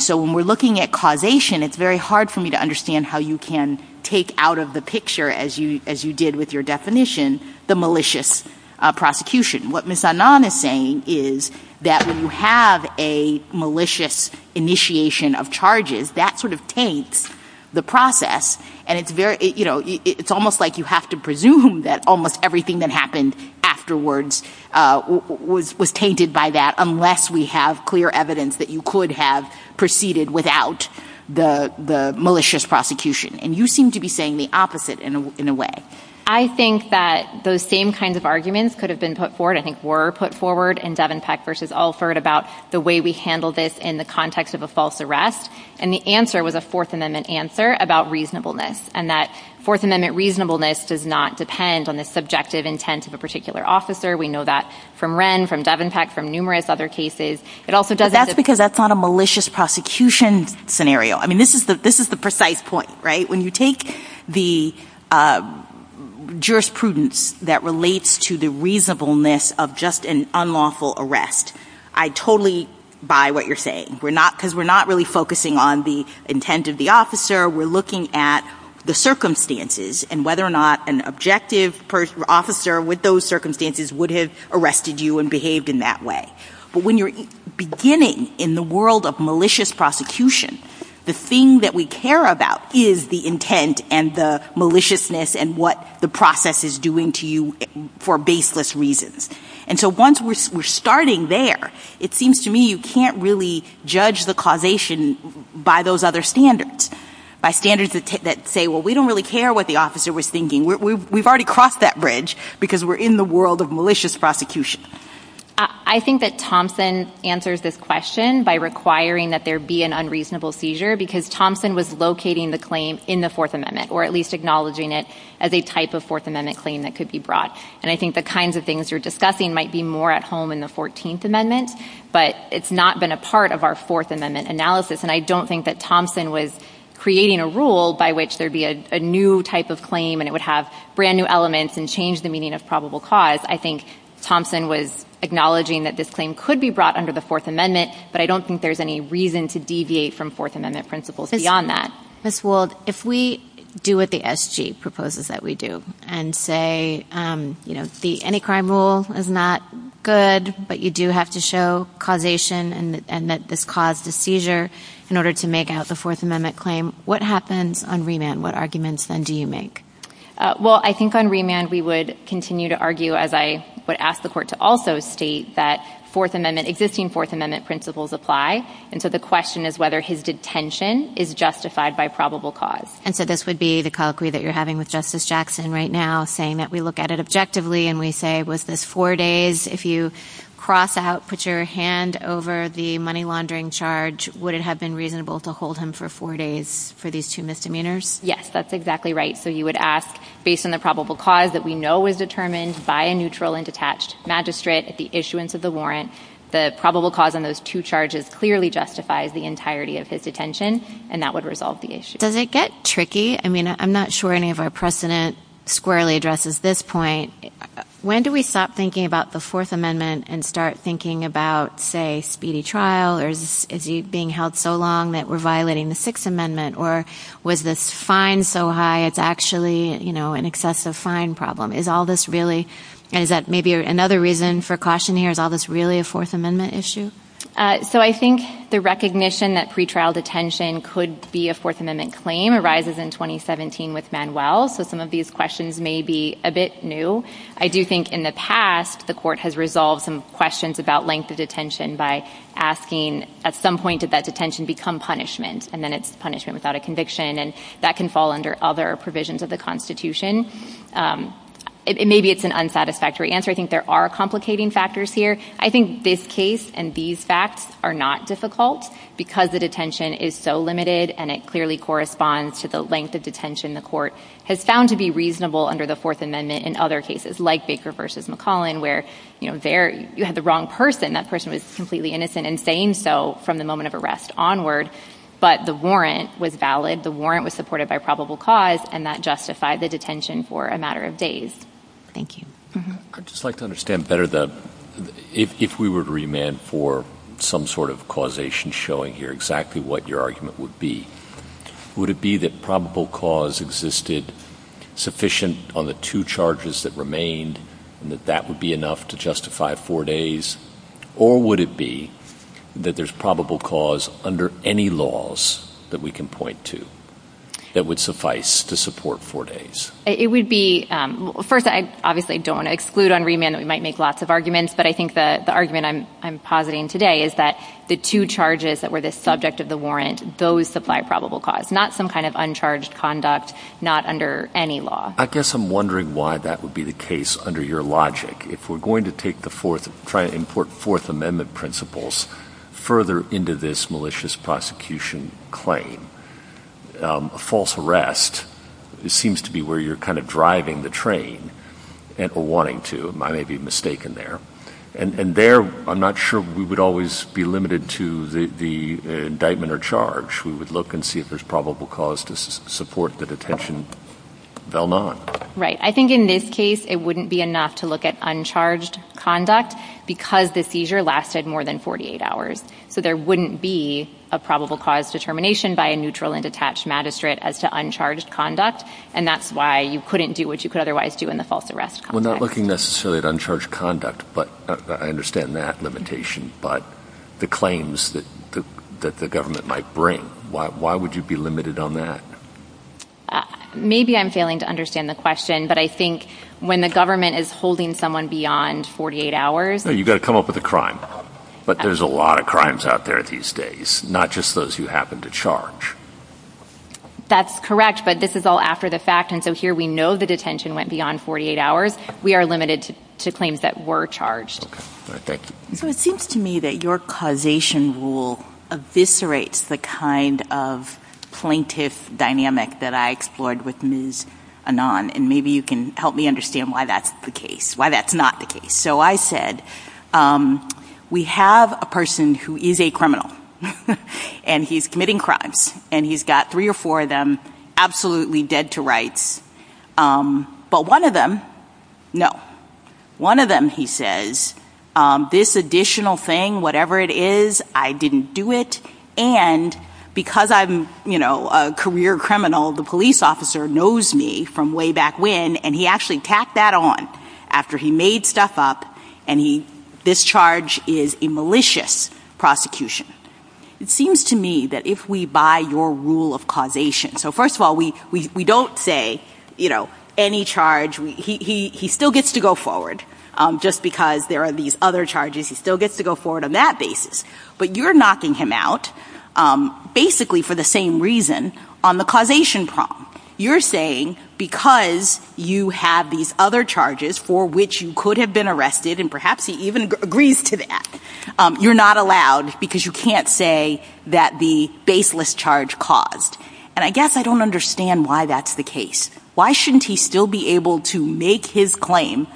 so when we're looking at causation, it's very hard for me to understand how you can take out of the picture as you did with your definition, the malicious prosecution. What Ms. Anand is saying is that when you have a malicious initiation of charges, that sort of taints the process. And it's almost like you have to presume that almost everything that happened afterwards was tainted by that, unless we have clear evidence that you could have proceeded without the malicious prosecution. And you seem to be saying the opposite in a way. I think that those same kinds of arguments could have been put forward, I think were put forward in Devenpeck v. Alford about the way we handle this in the context of a false arrest. And the answer was a Fourth Amendment answer about reasonableness, and that Fourth Amendment reasonableness does not depend on the subjective intent of a particular officer. We know that from Wren, from Devenpeck, from numerous other cases. It also doesn't... But that's because that's not a malicious prosecution scenario. I mean, this is the precise point, right? When you take the jurisprudence that relates to the reasonableness of just an unlawful arrest, I totally buy what you're saying. Because we're not really focusing on the intent of the officer, we're looking at the circumstances and whether or not an objective officer with those circumstances would have arrested you and behaved in that way. But when you're beginning in the world of malicious prosecution, the thing that we care about is the intent and the maliciousness and what the process is doing to you for baseless reasons. And so once we're starting there, it seems to me you can't really judge the causation by those other standards, by standards that say, well, we don't really care what the officer was thinking. We've already crossed that bridge because we're in the world of malicious prosecution. I think that Thompson answers this question by requiring that there be an unreasonable seizure because Thompson was locating the claim in the Fourth Amendment, or at least acknowledging it as a type of Fourth Amendment claim that could be brought. And I think the kinds of things you're might be more at home in the 14th Amendment, but it's not been a part of our Fourth Amendment analysis. And I don't think that Thompson was creating a rule by which there'd be a new type of claim and it would have brand new elements and change the meaning of probable cause. I think Thompson was acknowledging that this claim could be brought under the Fourth Amendment, but I don't think there's any reason to deviate from Fourth Amendment principles beyond that. Ms. Wold, if we do what the SG proposes that we do and say, you know, the any crime rule is not good, but you do have to show causation and that this caused a seizure in order to make out the Fourth Amendment claim, what happens on remand? What arguments then do you make? Well, I think on remand, we would continue to argue, as I would ask the court to also state, that Fourth Amendment, existing Fourth Amendment principles apply. And so the question is whether his detention is justified by probable cause. And so this would be the colloquy that you're having with Justice Jackson right now, saying that we look at it objectively and we say, was this four days? If you cross out, put your hand over the money laundering charge, would it have been reasonable to hold him for four days for these two misdemeanors? Yes, that's exactly right. So you would ask, based on the probable cause that we know was determined by a neutral and detached magistrate at the issuance of the warrant, the probable cause of those two charges clearly justifies the entirety of his detention, and that would resolve the issue. Does it get tricky? I mean, I'm not sure any of our precedent squarely addresses this point. When do we stop thinking about the Fourth Amendment and start thinking about, say, speedy trial? Or is he being held so long that we're violating the Sixth Amendment? Or was this fine so high, it's actually an excessive fine problem? Is all this really, and is that maybe another caution here, is all this really a Fourth Amendment issue? So I think the recognition that pretrial detention could be a Fourth Amendment claim arises in 2017 with Manuel. So some of these questions may be a bit new. I do think in the past, the court has resolved some questions about length of detention by asking, at some point, did that detention become punishment? And then it's punishment without a conviction, and that can fall under other provisions of the Constitution. Maybe it's an unsatisfactory answer. I think there are complicating factors here. I think this case and these facts are not difficult because the detention is so limited, and it clearly corresponds to the length of detention the court has found to be reasonable under the Fourth Amendment in other cases, like Baker v. McClellan, where you had the wrong person. That person was completely innocent in saying so from the moment of arrest onward. But the warrant was valid. The warrant was supported by probable cause, and that justified the detention for a matter of days. Thank you. I'd just like to understand better if we were to remand for some sort of causation showing here exactly what your argument would be. Would it be that probable cause existed sufficient on the two charges that remained, and that that would be enough to justify four days? Or would it be that there's probable cause under any laws that we can It would be—first, I obviously don't exclude on remand that we might make lots of arguments, but I think the argument I'm positing today is that the two charges that were the subject of the warrant, those supply probable cause, not some kind of uncharged conduct, not under any law. I guess I'm wondering why that would be the case under your logic. If we're going to try to import Fourth Amendment principles further into this malicious prosecution claim, a false arrest seems to be where you're kind of driving the train, or wanting to. I may be mistaken there. And there, I'm not sure we would always be limited to the indictment or charge. We would look and see if there's probable cause to support the detention. Right. I think in this case, it wouldn't be enough to look at uncharged conduct because the seizure lasted more than 48 hours. So there wouldn't be probable cause determination by a neutral and detached magistrate as to uncharged conduct. And that's why you couldn't do what you could otherwise do in the false arrest. We're not looking necessarily at uncharged conduct, but I understand that limitation. But the claims that the government might bring, why would you be limited on that? Maybe I'm failing to understand the question, but I think when the government is holding someone beyond 48 hours— No, you've got to come up with a crime. But there's a lot of crimes out there these days, not just those who happen to charge. That's correct, but this is all after the fact. And so here we know the detention went beyond 48 hours. We are limited to claims that were charged. Thank you. So it seems to me that your causation rule eviscerates the kind of plaintiff dynamic that I explored with Ms. Anon. And maybe you can help me understand why that's the case, so I said, we have a person who is a criminal and he's committing crimes and he's got three or four of them absolutely dead to rights. But one of them, no, one of them, he says, this additional thing, whatever it is, I didn't do it. And because I'm a career criminal, the police officer knows me from way back when, and he actually tacked that on after he made stuff up and this charge is a malicious prosecution. It seems to me that if we buy your rule of causation, so first of all, we don't say any charge. He still gets to go forward just because there are these other charges. He still gets to go forward on that basis. But you're knocking him out basically for the same reason on the causation problem. You're saying because you have these other charges for which you could have been arrested, and perhaps he even agrees to that, you're not allowed because you can't say that the baseless charge caused. And I guess I don't understand why that's the case. Why shouldn't he still be able to make his claim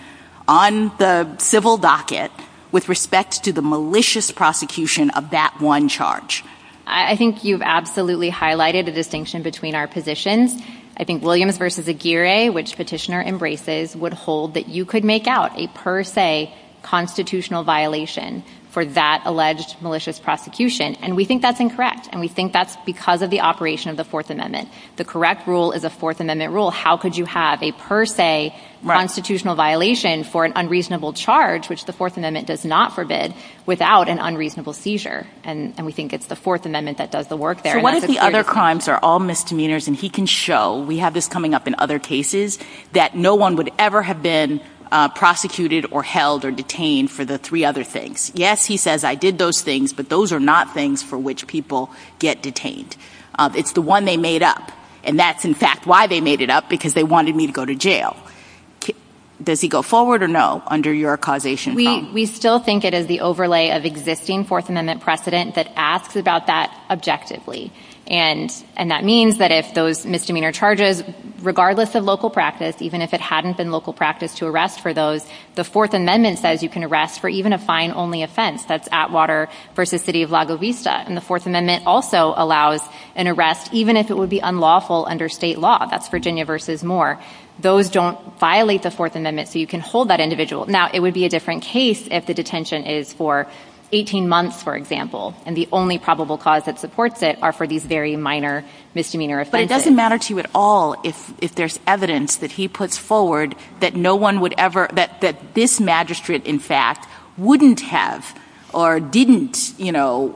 on the civil docket with respect to the malicious prosecution of that one charge? I think you've absolutely highlighted a distinction between our positions. I think Williams v. Aguirre, which Petitioner embraces, would hold that you could make out a per se constitutional violation for that alleged malicious prosecution. And we think that's incorrect. And we think that's because of the operation of the Fourth Amendment. The correct rule is a Fourth Amendment rule. How could you have a per se constitutional violation for an unreasonable seizure? And we think it's the Fourth Amendment that does the work there. So what if the other crimes are all misdemeanors and he can show, we have this coming up in other cases, that no one would ever have been prosecuted or held or detained for the three other things? Yes, he says, I did those things, but those are not things for which people get detained. It's the one they made up. And that's in fact why they made it up, because they wanted me to go to jail. Does he go forward or no under your causation problem? We still think it is the overlay of existing Fourth Amendment precedent that asks about that objectively. And that means that if those misdemeanor charges, regardless of local practice, even if it hadn't been local practice to arrest for those, the Fourth Amendment says you can arrest for even a fine-only offense. That's Atwater v. City of La Govista. And the Fourth Amendment also allows an arrest even if it would be unlawful under state law. That's Virginia v. Moore. Those don't violate the Fourth Amendment, so you can hold that individual. Now, it would be a different case if the detention is for 18 months, for example. And the only probable cause that supports it are for these very minor misdemeanor offenses. But it doesn't matter to you at all if there's evidence that he puts forward that this magistrate, in fact, wouldn't have or didn't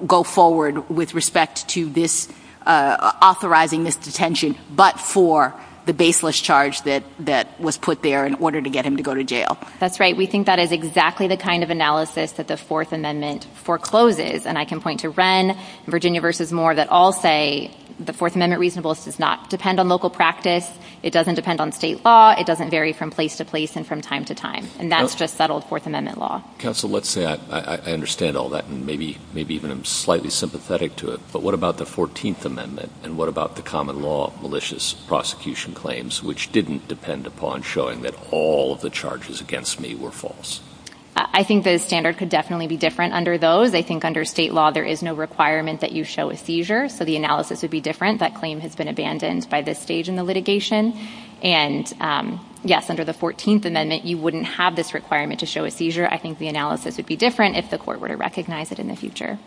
go forward with respect to this authorizing this detention, but for the baseless charge that was put there in order to get him to go to jail. That's right. We think that is exactly the kind of analysis that the Fourth Amendment forecloses. And I can point to Wren and Virginia v. Moore that all say the Fourth Amendment reasonableness does not depend on local practice. It doesn't depend on state law. It doesn't vary from place to place and from time to time. And that's just settled Fourth Amendment law. Counsel, let's say I understand all that and maybe even I'm slightly sympathetic to it, but what about the Fourteenth Amendment and what about the common law malicious prosecution claims which didn't depend upon showing that all of the charges against me were false? I think the standard could definitely be different under those. I think under state law, there is no requirement that you show a seizure. So the analysis would be different. That claim has been abandoned by this stage in the litigation. And yes, under the Fourteenth Amendment, you wouldn't have this requirement to show a seizure. I think the analysis would be different if the court were to recognize it in the future.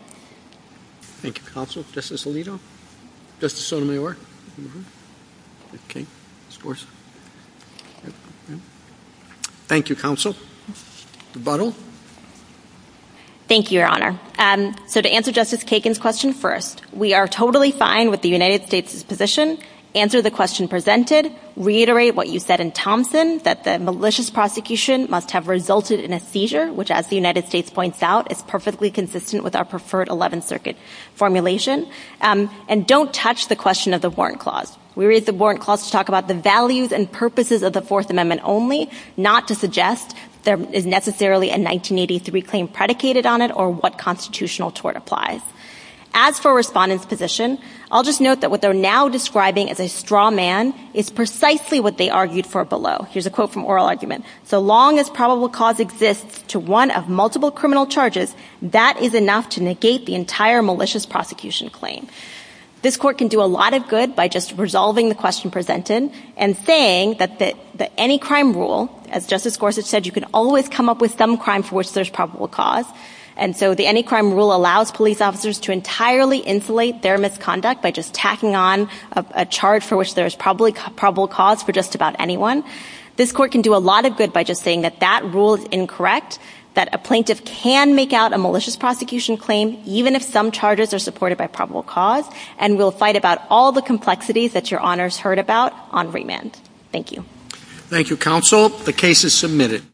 Thank you, Counsel. Justice Alito? Justice Sotomayor? Okay. Thank you, Counsel. Thank you, Your Honor. So to answer Justice Kagan's question first, we are totally fine with the United States' position. Answer the question presented. Reiterate what you said in Thompson, that the malicious prosecution must have resulted in a seizure, which as the United States points out, is perfectly consistent with our preferred Eleventh Circuit formulation. And don't touch the question of the Warrant Clause. We read the Warrant Clause to talk about the values and purposes of the Fourth Amendment only, not to suggest there is necessarily a 1983 claim predicated on it or what constitutional tort applies. As for respondents' position, I'll just note that what they're now describing as a straw man is precisely what they argued for below. Here's a quote from Justice Gorsuch. This court can do a lot of good by just resolving the question presented and saying that the any crime rule, as Justice Gorsuch said, you can always come up with some crime for which there's probable cause. And so the any crime rule allows police officers to entirely insulate their misconduct by just tacking on a charge for which there is probably probable cause for just about anyone. This court can do a lot of good by just saying that that rule is incorrect, that a plaintiff can make out a malicious prosecution claim even if some charges are supported by probable cause, and will fight about all the complexities that your Honors heard about on remand. Thank you. Thank you, Counsel. The case is submitted.